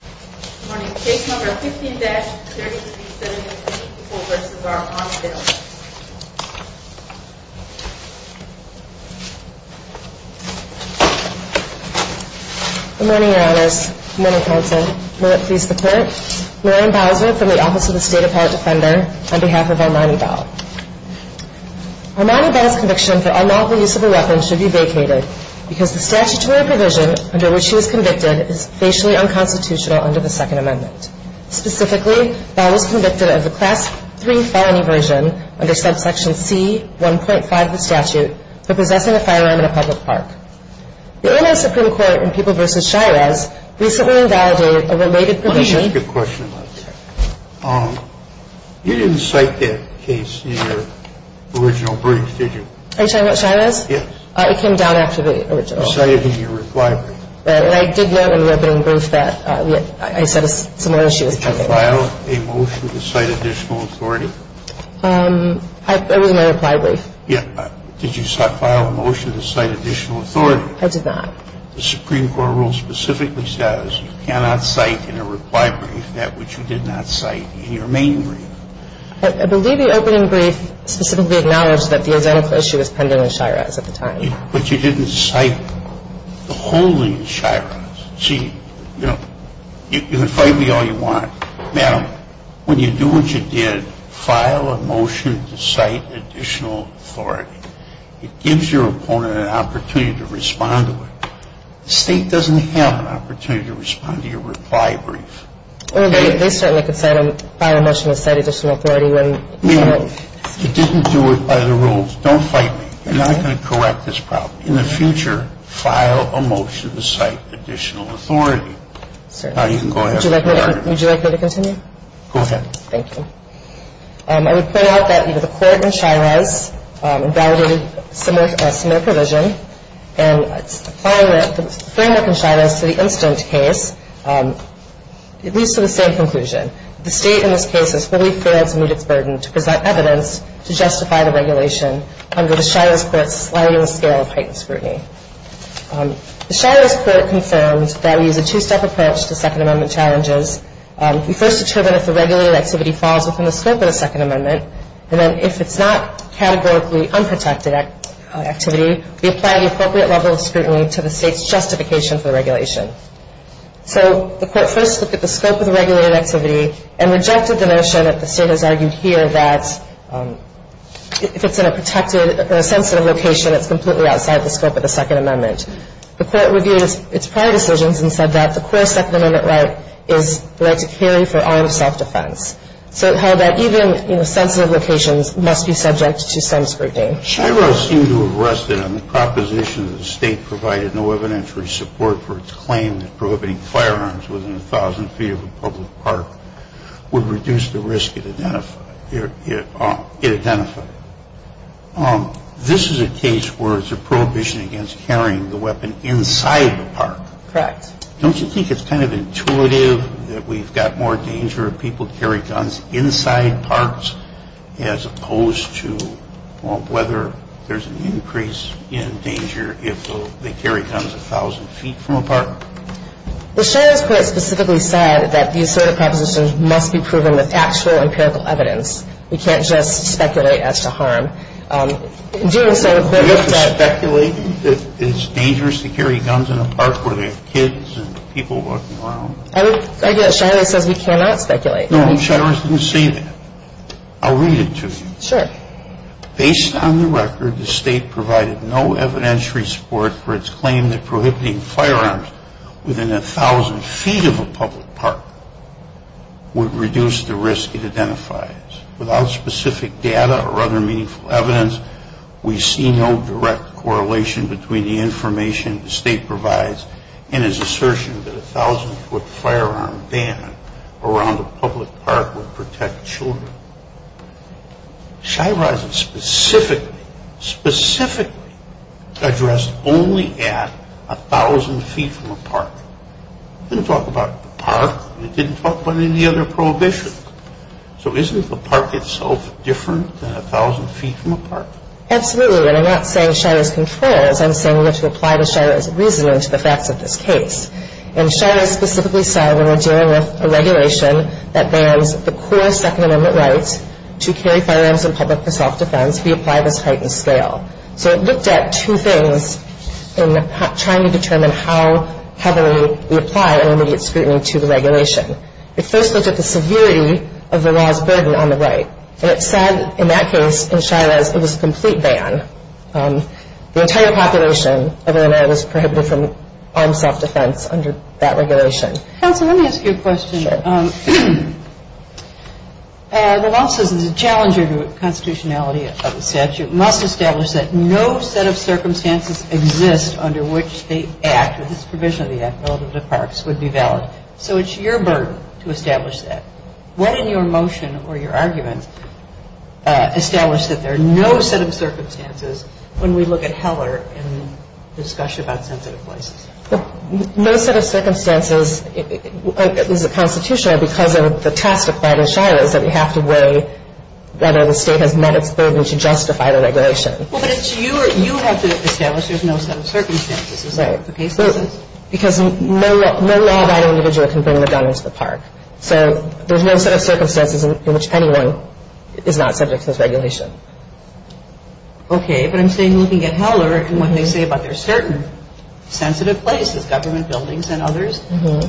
Good morning. Case No. 15-33724 v. R. Armani Bell. Good morning, Your Honors. Good morning, Counsel. May it please the Court. Lorraine Bowser from the Office of the State Appellate Defender on behalf of Armani Bell. Armani Bell's conviction for unlawful use of a weapon should be vacated because the statutory provision under which she was convicted is facially unconstitutional under the Second Amendment. Specifically, Bell was convicted of the Class III felony version under subsection C. 1.5 of the statute for possessing a firearm in a public park. The Illinois Supreme Court in People v. Shires recently invalidated a related provision. Let me ask you a question about that. You didn't cite that case in your original brief, did you? Are you talking about Shires? Yes. It came down after the original. You cited it in your reply brief. I did note in the opening brief that I said a similar issue was pending. Did you file a motion to cite additional authority? It was in my reply brief. Did you file a motion to cite additional authority? I did not. The Supreme Court rule specifically says you cannot cite in a reply brief that which you did not cite in your main brief. I believe the opening brief specifically acknowledged that the identical issue was pending in Shires at the time. But you didn't cite the whole thing in Shires. See, you know, you can fight me all you want. Madam, when you do what you did, file a motion to cite additional authority. It gives your opponent an opportunity to respond to it. The State doesn't have an opportunity to respond to your reply brief. Well, they certainly could file a motion to cite additional authority. It didn't do it by the rules. Don't fight me. I'm not going to correct this problem. In the future, file a motion to cite additional authority. Now you can go ahead. Would you like me to continue? Go ahead. Thank you. I would point out that either the court in Shires validated similar provision, and applying the framework in Shires to the incident case, it leads to the same conclusion. The State in this case has fully failed to meet its burden to present evidence to justify the regulation under the Shires court's sliding scale of heightened scrutiny. The Shires court confirmed that we use a two-step approach to Second Amendment challenges. We first determine if the regulated activity falls within the scope of the Second Amendment, and then if it's not categorically unprotected activity, we apply the appropriate level of scrutiny to the State's justification for the regulation. So the court first looked at the scope of the regulated activity and rejected the notion that the State has argued here that if it's in a sensitive location, it's completely outside the scope of the Second Amendment. The court reviewed its prior decisions and said that the core Second Amendment right is the right to carry for armed self-defense. So it held that even sensitive locations must be subject to some scrutiny. Shires seemed to have rested on the proposition that the State provided no evidentiary support for its claim that prohibiting firearms within 1,000 feet of a public park would reduce the risk it identified. This is a case where it's a prohibition against carrying the weapon inside the park. Correct. Don't you think it's kind of intuitive that we've got more danger of people carrying guns inside parks as opposed to whether there's an increase in danger if they carry guns 1,000 feet from a park? The Shires court specifically said that these sort of propositions must be proven with actual empirical evidence. We can't just speculate as to harm. Are you speculating that it's dangerous to carry guns in a park where there are kids and people walking around? I would argue that Shires says we cannot speculate. No, Shires didn't say that. I'll read it to you. Sure. Based on the record, the State provided no evidentiary support for its claim that prohibiting firearms within 1,000 feet of a public park would reduce the risk it identifies without specific data or other meaningful evidence. We see no direct correlation between the information the State provides and its assertion that a 1,000-foot firearm ban around a public park would protect children. Shires is specifically, specifically addressed only at 1,000 feet from a park. It didn't talk about the park. It didn't talk about any other prohibition. So isn't the park itself different than 1,000 feet from a park? Absolutely. And I'm not saying Shires controls. I'm saying we have to apply the Shires reasoning to the facts of this case. And Shires specifically said when we're dealing with a regulation that bans the core Second Amendment rights to carry firearms in public for self-defense, we apply this heightened scale. So it looked at two things in trying to determine how heavily we apply an immediate scrutiny to the regulation. It first looked at the severity of the law's burden on the right. And it said in that case in Shires it was a complete ban. The entire population of Illinois was prohibited from armed self-defense under that regulation. Counsel, let me ask you a question. Sure. The law says as a challenger to constitutionality of the statute, must establish that no set of circumstances exist under which the act or this provision of the act relative to parks would be valid. So it's your burden to establish that. What in your motion or your argument established that there are no set of circumstances when we look at Heller in the discussion about sensitive places? No set of circumstances is a constitutional because of the testified in Shires that we have to weigh whether the state has met its burden to justify the regulation. Well, but you have to establish there's no set of circumstances. Is that what the case says? Because no law-abiding individual can bring their gun into the park. So there's no set of circumstances in which anyone is not subject to this regulation. Okay. But I'm saying looking at Heller and what they say about their certain sensitive places, government buildings and others,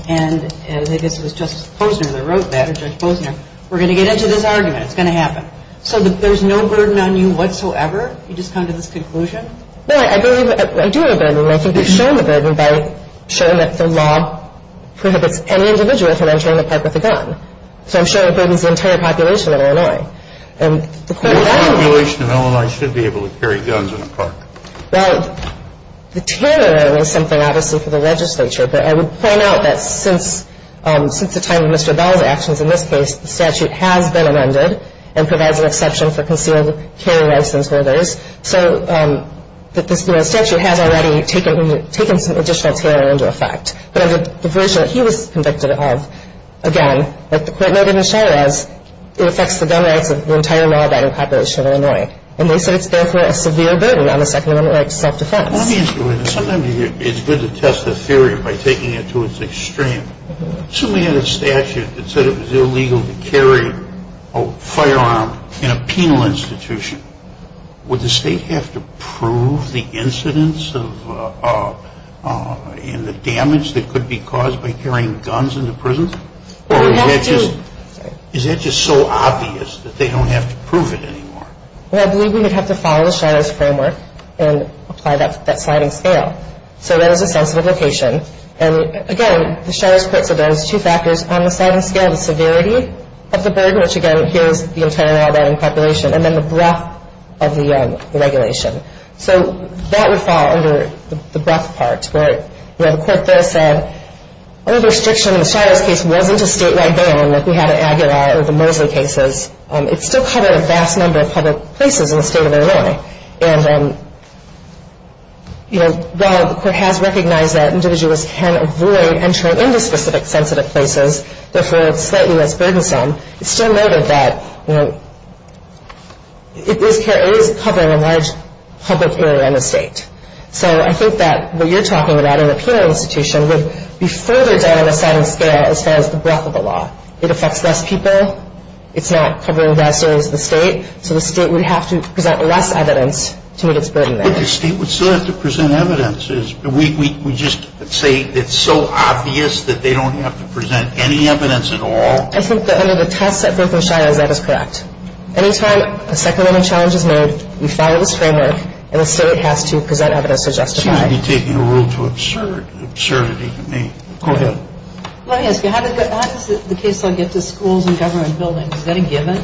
and I guess it was Justice Posner that wrote that, or Judge Posner, we're going to get into this argument. It's going to happen. So there's no burden on you whatsoever? You just come to this conclusion? Well, I believe I do have a burden. I think we've shown the burden by showing that the law prohibits any individual from entering the park with a gun. So I'm sure it burdens the entire population of Illinois. The population of Illinois should be able to carry guns in a park. Well, the terror is something, obviously, for the legislature. But I would point out that since the time of Mr. Bell's actions in this case, the statute has been amended and provides an exception for concealed carry license holders. So the statute has already taken some additional terror into effect. But the version that he was convicted of, again, like the court noted in Chavez, it affects the gun rights of the entire Mar-a-Lago population of Illinois. And they said it's therefore a severe burden on the Second Amendment right to self-defense. Let me ask you this. Sometimes it's good to test a theory by taking it to its extreme. Assuming we had a statute that said it was illegal to carry a firearm in a penal institution, would the state have to prove the incidents and the damage that could be caused by carrying guns into prisons? Or is that just so obvious that they don't have to prove it anymore? Well, I believe we would have to follow the Shadows Framework and apply that sliding scale. So that is a sensitive location. And, again, the Shadows Court said there was two factors on the sliding scale, the severity of the burden, which, again, gives the entire Mar-a-Lago population, and then the breadth of the regulation. So that would fall under the breadth part, where the court does say, although the restriction in the Shadows case wasn't a statewide ban like we had in Aguilar or the Mosley cases, it still covered a vast number of public places in the state of Illinois. And, you know, while the court has recognized that individuals can avoid entering into specific sensitive places, therefore it's slightly less burdensome, it's still noted that, you know, it is covering a large public area in the state. So I think that what you're talking about in a penal institution would be further down the sliding scale as far as the breadth of the law. It affects less people. It's not covering vast areas of the state. So the state would have to present less evidence to meet its burden there. But the state would still have to present evidence. We just say it's so obvious that they don't have to present any evidence at all? I think that under the test set forth in Shadows, that is correct. Any time a second-level challenge is made, we follow this framework, and the state has to present evidence to justify it. Seems to be taking a rule to absurdity to me. Go ahead. Let me ask you, how does the case law get to schools and government buildings? Is that a given?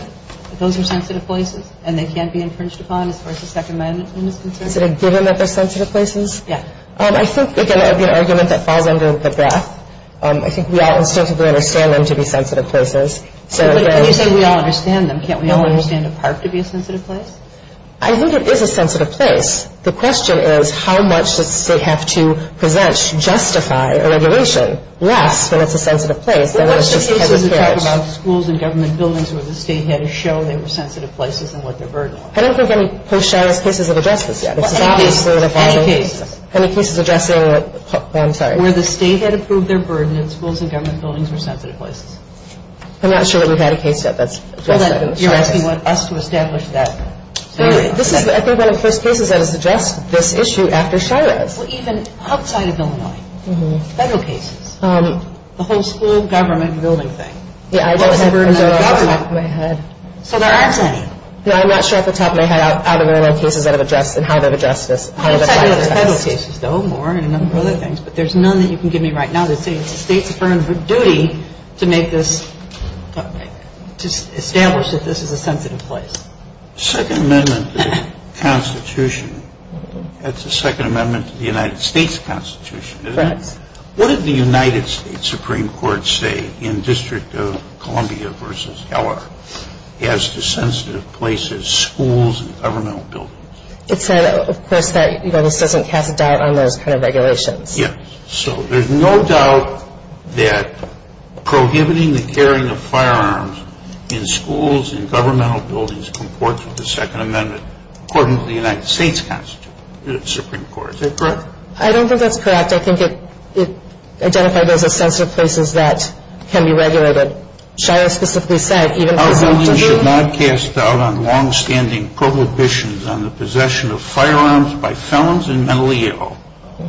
Those are sensitive places, and they can't be infringed upon as far as the Second Amendment is concerned? Is it a given that they're sensitive places? Yeah. I think, again, that would be an argument that falls under the breadth. I think we all instinctively understand them to be sensitive places. But you say we all understand them. Can't we all understand a park to be a sensitive place? I think it is a sensitive place. The question is how much does the state have to present to justify a regulation less when it's a sensitive place than when it's just kind of a carriage? You're talking about schools and government buildings where the state had to show they were sensitive places and what their burden was. I don't think any post-Charles cases have addressed this yet. Any cases? Any cases. Any cases addressing it? I'm sorry. Where the state had to prove their burden and schools and government buildings were sensitive places. I'm not sure that we've had a case yet that's addressed that. You're asking us to establish that. I think one of the first cases that has addressed this issue after Charles. Even outside of Illinois. Federal cases. The whole school, government, building thing. What was the burden of government? So there aren't any. No, I'm not sure at the top of my head out of Illinois cases that have addressed this and how they've addressed this. Outside of the federal cases, though, more and a number of other things. But there's none that you can give me right now that say it's the state's firm duty to make this, to establish that this is a sensitive place. Second Amendment to the Constitution. That's the Second Amendment to the United States Constitution, isn't it? Correct. What did the United States Supreme Court say in District of Columbia versus Heller as to sensitive places, schools, and governmental buildings? It said, of course, that this doesn't cast a doubt on those kind of regulations. Yes. So there's no doubt that prohibiting the carrying of firearms in schools and governmental buildings comports with the Second Amendment, according to the United States Constitution, the Supreme Court. Is that correct? I don't think that's correct. In fact, I think it identified those as sensitive places that can be regulated. Shire specifically said, even presumptively— Our ruling should not cast doubt on longstanding prohibitions on the possession of firearms by felons and mentally ill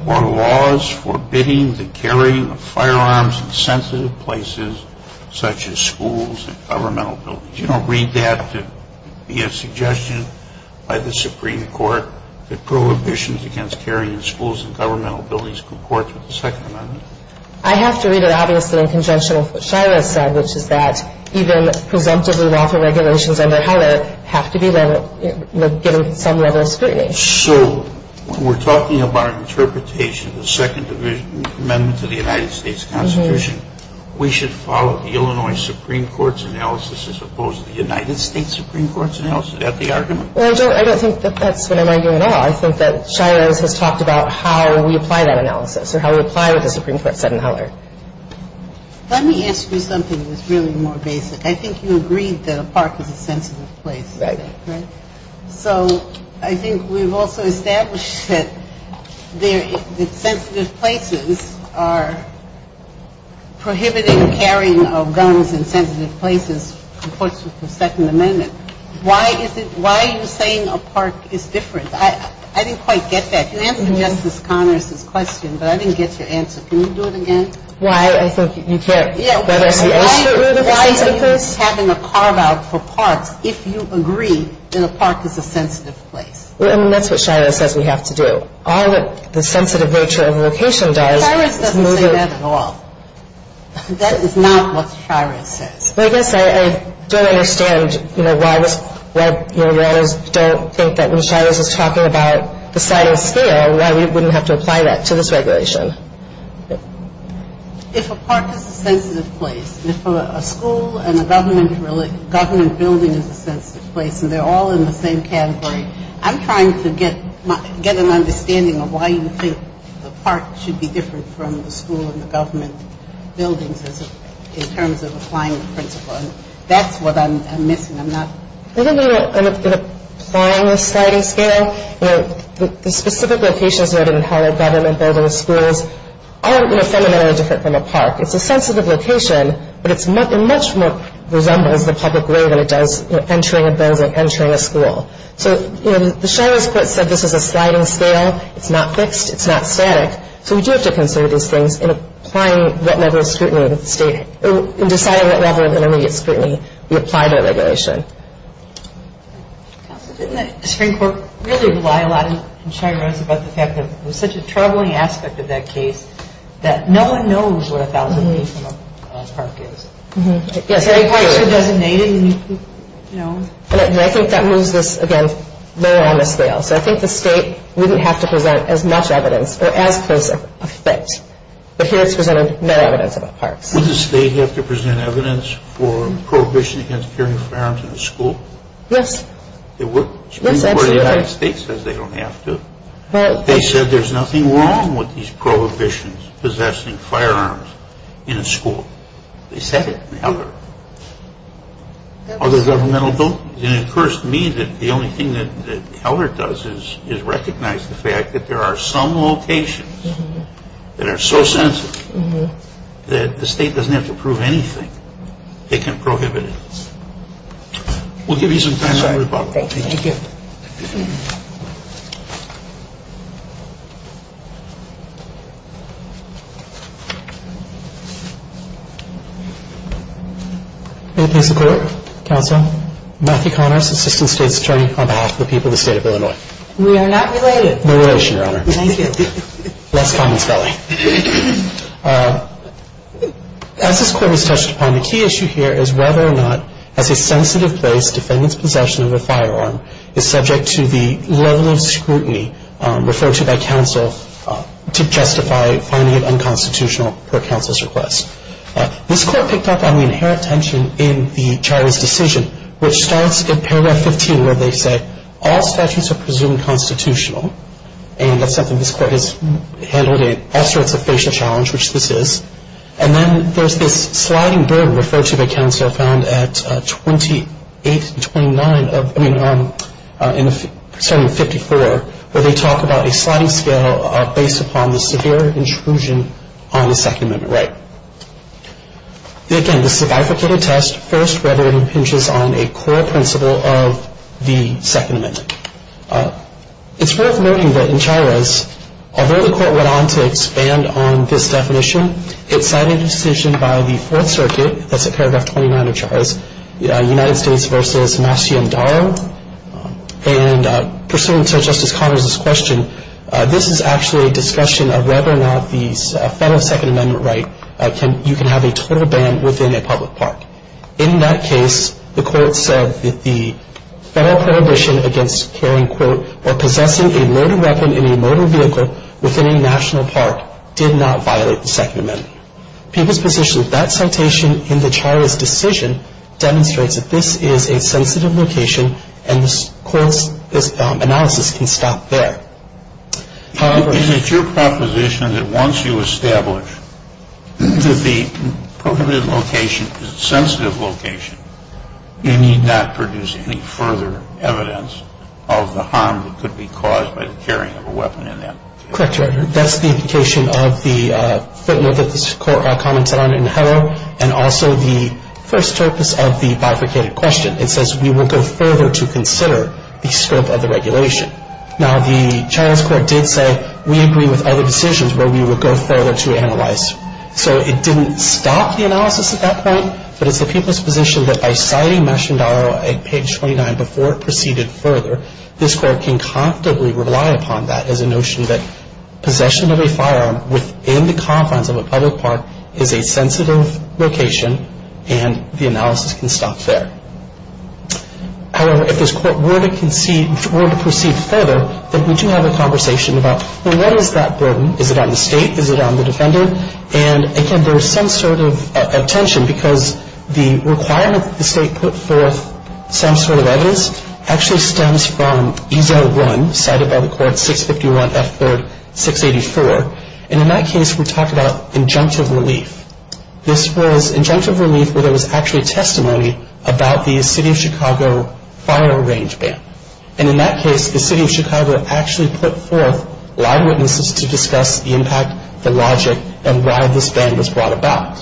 or laws forbidding the carrying of firearms in sensitive places such as schools and governmental buildings. You don't read that to be a suggestion by the Supreme Court that prohibitions against carrying in schools and governmental buildings comports with the Second Amendment? I have to read it, obviously, in conjunction with what Shire has said, which is that even presumptively lawful regulations under Heller have to be given some level of scrutiny. So when we're talking about an interpretation of the Second Amendment to the United States Constitution, we should follow the Illinois Supreme Court's analysis as opposed to the United States Supreme Court's analysis? Is that the argument? Well, I don't think that that's what I'm arguing at all. I think that Shire has talked about how we apply that analysis or how we apply what the Supreme Court said in Heller. Let me ask you something that's really more basic. I think you agreed that a park is a sensitive place, right? Right. So I think we've also established that sensitive places are prohibiting the carrying of guns in sensitive places comports with the Second Amendment. Why are you saying a park is different? I didn't quite get that. You answered Justice Connors' question, but I didn't get your answer. Can you do it again? Why? I think you can't. Why are you having a carve-out for parks if you agree that a park is a sensitive place? I mean, that's what Shire says we have to do. All that the sensitive nature of the location does is move it. Shire doesn't say that at all. That is not what Shire says. Well, I guess I don't understand, you know, why we always don't think that when Shire is just talking about the size and scale, why we wouldn't have to apply that to this regulation. If a park is a sensitive place, if a school and a government building is a sensitive place and they're all in the same category, I'm trying to get an understanding of why you think a park should be different from the school and the government buildings in terms of applying the principle, and that's what I'm missing. I'm not... I think in applying the sliding scale, you know, the specific locations noted in how a government building and schools are, you know, fundamentally different from a park. It's a sensitive location, but it much more resembles the public way than it does, you know, entering a building, entering a school. So, you know, the Shire's quote said this is a sliding scale. It's not fixed. It's not static. So we do have to consider these things in applying wet level scrutiny to the state and deciding what level of intermediate scrutiny we apply to a regulation. Didn't the Supreme Court really rely a lot in Shire's about the fact that it was such a troubling aspect of that case that no one knows what 1,000 feet from a park is? Yes. It's designated, you know. And I think that moves this, again, lower on a scale. So I think the state wouldn't have to present as much evidence or as close a fit. But here it's presented no evidence about parks. Would the state have to present evidence for prohibition against carrying firearms in a school? Yes. The Supreme Court of the United States says they don't have to. They said there's nothing wrong with these prohibitions possessing firearms in a school. They said it in Heller. Other governmental buildings. And it occurs to me that the only thing that Heller does is recognize the fact that there are some locations that are so sensitive that the state doesn't have to prove anything. They can prohibit it. We'll give you some time to rebuttal. Thank you. Thank you. May it please the Court, Counsel, Matthew Connors, Assistant State's Attorney on behalf of the people of the State of Illinois. We are not related. No relation, Your Honor. Thank you. Less common spelling. As this Court has touched upon, the key issue here is whether or not, as a sensitive place, defendants' possession of a firearm is subject to the level of scrutiny referred to by counsel to justify finding it unconstitutional per counsel's request. This Court picked up on the inherent tension in the charge's decision, which starts in paragraph 15 where they say all statutes are presumed constitutional. And that's something this Court has handled in all sorts of facial challenge, which this is. And then there's this sliding burden referred to by counsel found at 28 and 29 of, I mean, starting in 54, where they talk about a sliding scale based upon the severe intrusion on the Second Amendment right. Again, this is a bifurcated test, first rather than pinches on a core principle of the Second Amendment. It's worth noting that in Chavez, although the Court went on to expand on this definition, it cited a decision by the Fourth Circuit, that's at paragraph 29 of Chavez, United States v. Maceo and Darrow. And pursuant to Justice Connors' question, this is actually a discussion of whether or not the Federal Second Amendment right, you can have a total ban within a public park. In that case, the Court said that the Federal prohibition against carrying, quote, or possessing a loaded weapon in a motor vehicle within a national park did not violate the Second Amendment. People's position of that citation in the charge's decision demonstrates that this is a sensitive location and the Court's analysis can stop there. Is it your proposition that once you establish that the prohibited location is a sensitive location, you need not produce any further evidence of the harm that could be caused by the carrying of a weapon in that location? Correct, Your Honor. That's the implication of the footnote that this Court commented on in the header and also the first purpose of the bifurcated question. It says we will go further to consider the scope of the regulation. Now, the child's court did say we agree with other decisions where we would go further to analyze. So it didn't stop the analysis at that point, but it's the people's position that by citing Mash and Darrow at page 29 before it proceeded further, this Court can comfortably rely upon that as a notion that possession of a firearm within the confines of a public park is a sensitive location and the analysis can stop there. However, if this Court were to proceed further, then we do have a conversation about, well, what is that burden? Is it on the State? Is it on the defendant? And, again, there's some sort of tension because the requirement that the State put forth some sort of evidence actually stems from E-01 cited by the Court, 651 F. Ford 684. And in that case, we talk about injunctive relief. This was injunctive relief where there was actually testimony about the City of Chicago Fire Range Ban. And in that case, the City of Chicago actually put forth live witnesses to discuss the impact, the logic, and why this ban was brought about.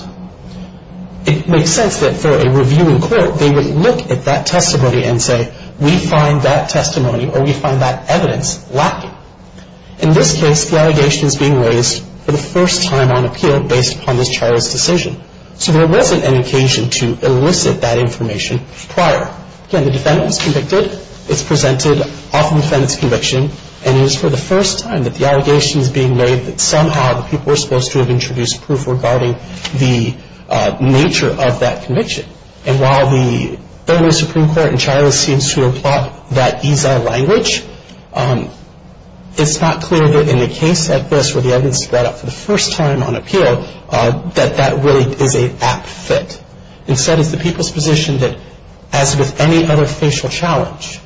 It makes sense that for a review in court, they would look at that testimony and say, we find that testimony or we find that evidence lacking. In this case, the allegation is being raised for the first time on appeal based upon this childless decision. So there wasn't an occasion to elicit that information prior. Again, the defendant was convicted. It's presented off of the defendant's conviction. And it is for the first time that the allegation is being made that somehow the people were supposed to have introduced proof regarding the nature of that conviction. And while the earlier Supreme Court in childless seems to applaud that EISA language, it's not clear that in a case like this where the evidence is brought up for the first time on appeal, that that really is an apt fit. Instead, it's the people's position that as with any other facial challenge,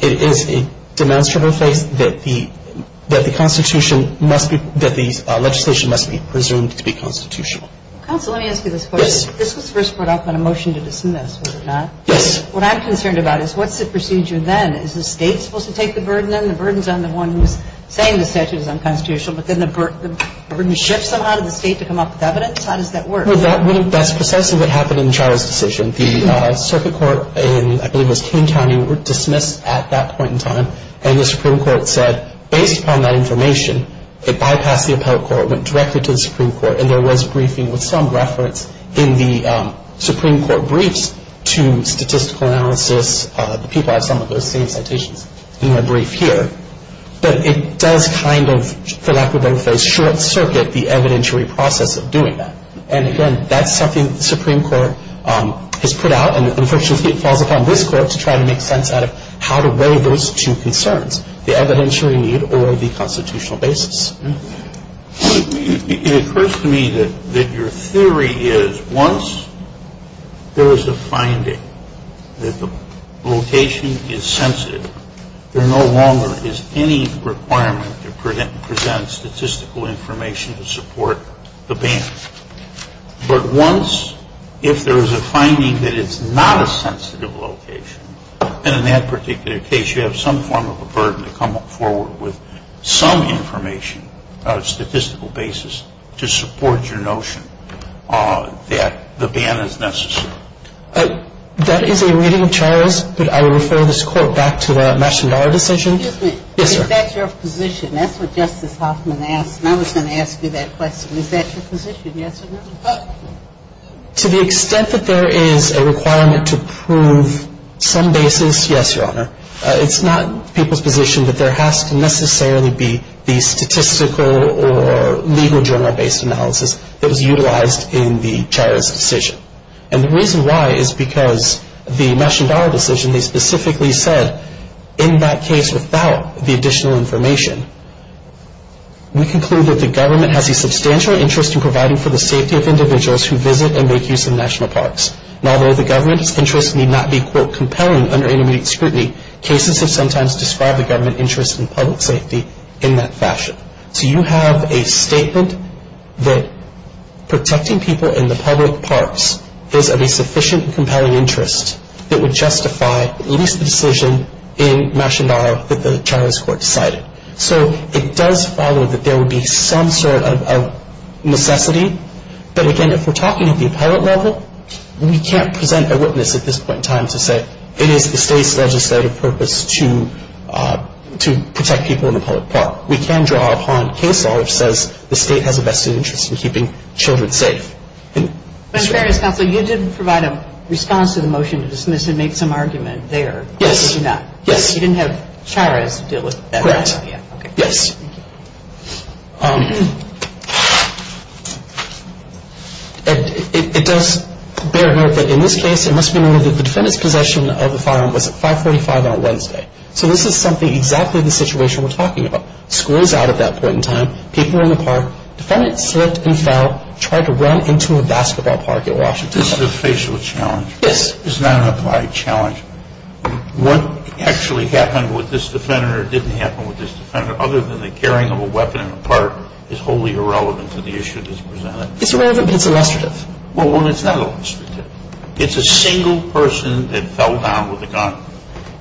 it is a demonstrable case that the Constitution must be, that the legislation must be presumed to be constitutional. Counsel, let me ask you this question. Yes. This was first brought up in a motion to dismiss, was it not? Yes. What I'm concerned about is what's the procedure then? Is the State supposed to take the burden? The burden's on the one who's saying the statute is unconstitutional, but then the burden shifts somehow to the State to come up with evidence? How does that work? Well, that's precisely what happened in the childless decision. The circuit court in, I believe it was King County, were dismissed at that point in time. And the Supreme Court said, based upon that information, it bypassed the appellate court, went directly to the Supreme Court, and there was briefing with some reference in the Supreme Court briefs to statistical analysis. The people have some of those same citations in their brief here. But it does kind of, for lack of a better phrase, short circuit the evidentiary process of doing that. And, again, that's something the Supreme Court has put out, and unfortunately it falls upon this Court to try to make sense out of how to weigh those two concerns, the evidentiary need or the constitutional basis. It occurs to me that your theory is once there is a finding that the location is sensitive, there no longer is any requirement to present statistical information to support the ban. But once, if there is a finding that it's not a sensitive location, and in that particular case you have some form of a burden to come forward with some information, a statistical basis to support your notion that the ban is necessary. That is a reading, Charles, but I will refer this Court back to the Mastandar decision. Excuse me. Yes, sir. Is that your position? That's what Justice Hoffman asked, and I was going to ask you that question. Is that your position, yes or no? To the extent that there is a requirement to prove some basis, yes, Your Honor. It's not people's position that there has to necessarily be the statistical or legal journal-based analysis that was utilized in the Chair's decision. And the reason why is because the Mastandar decision, they specifically said in that case without the additional information, we conclude that the government has a substantial interest in providing for the safety of individuals who visit and make use of national parks. And although the government's interest need not be, quote, compelling under intermediate scrutiny, cases have sometimes described the government interest in public safety in that fashion. So you have a statement that protecting people in the public parks is of a sufficient and compelling interest that would justify at least the decision in Mastandar that the Charles Court decided. So it does follow that there would be some sort of necessity, but again, if we're talking at the appellate level, we can't present a witness at this point in time to say it is the State's legislative purpose to protect people in the public park. We can draw upon case law which says the State has a vested interest in keeping children safe. Mr. Berrios, Counsel, you did provide a response to the motion to dismiss and make some argument there. Yes. You did not. Yes. You didn't have Chavez deal with that. Correct. Yes. It does bear note that in this case, it must be noted that the defendant's possession of the firearm was at 545 on Wednesday. So this is something exactly the situation we're talking about. School is out at that point in time. People are in the park. Defendant slipped and fell, tried to run into a basketball park in Washington. This is a facial challenge. Yes. It's not an applied challenge. What actually happened with this defendant or didn't happen with this defendant other than the carrying of a weapon in the park is wholly irrelevant to the issue that's presented. It's irrelevant, but it's illustrative. Well, it's not illustrative. It's a single person that fell down with a gun.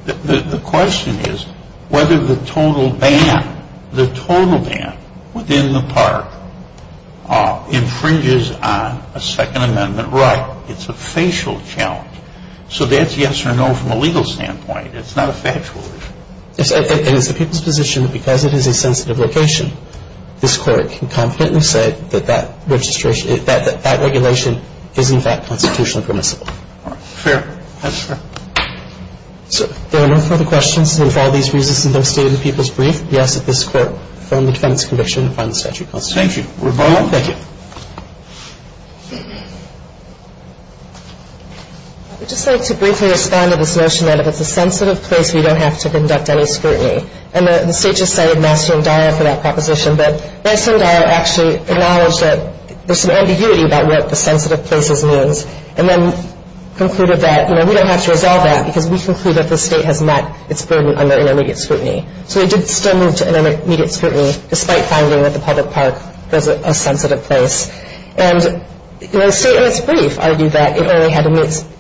The question is whether the total ban, the total ban within the park, infringes on a Second Amendment right. It's a facial challenge. So that's yes or no from a legal standpoint. It's not a factual issue. And it's the people's position that because it is a sensitive location, this Court can confidently say that that registration, that that regulation is in fact constitutionally permissible. Fair. That's fair. If there are no further questions, and if all these reasons have been stated in the people's brief, we ask that this Court firm the defendant's conviction and find the statute constitutional. Thank you. We're adjourned. Thank you. I would just like to briefly respond to this notion that if it's a sensitive place, we don't have to conduct any scrutiny. And the State just cited Nassar and Dyer for that proposition. But Nassar and Dyer actually acknowledged that there's some ambiguity about what the sensitive places means and then concluded that we don't have to resolve that because we conclude that the State has met its burden under intermediate scrutiny. So it did still move to intermediate scrutiny, despite finding that the public park was a sensitive place. And the State, in its brief, argued that it only had an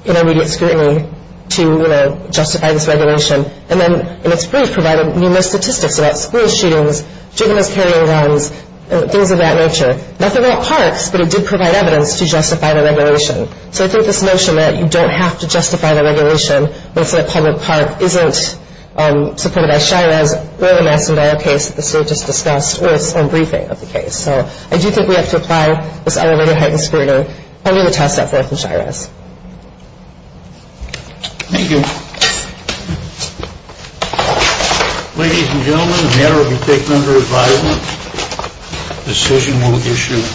intermediate scrutiny to, you know, justify this regulation. And then, in its brief, provided numerous statistics about school shootings, juveniles carrying guns, and things of that nature. Nothing about parks, but it did provide evidence to justify the regulation. So I think this notion that you don't have to justify the regulation when it's in a public park isn't supported by Shirez or Nassar and Dyer case that the State just discussed or its own briefing of the case. So I do think we have to apply this element of heightened scrutiny under the test of Shirez. Thank you. Ladies and gentlemen, the matter will be taken under advisement. Decision will be issued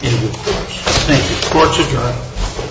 in the courts. Thank you. Court's adjourned.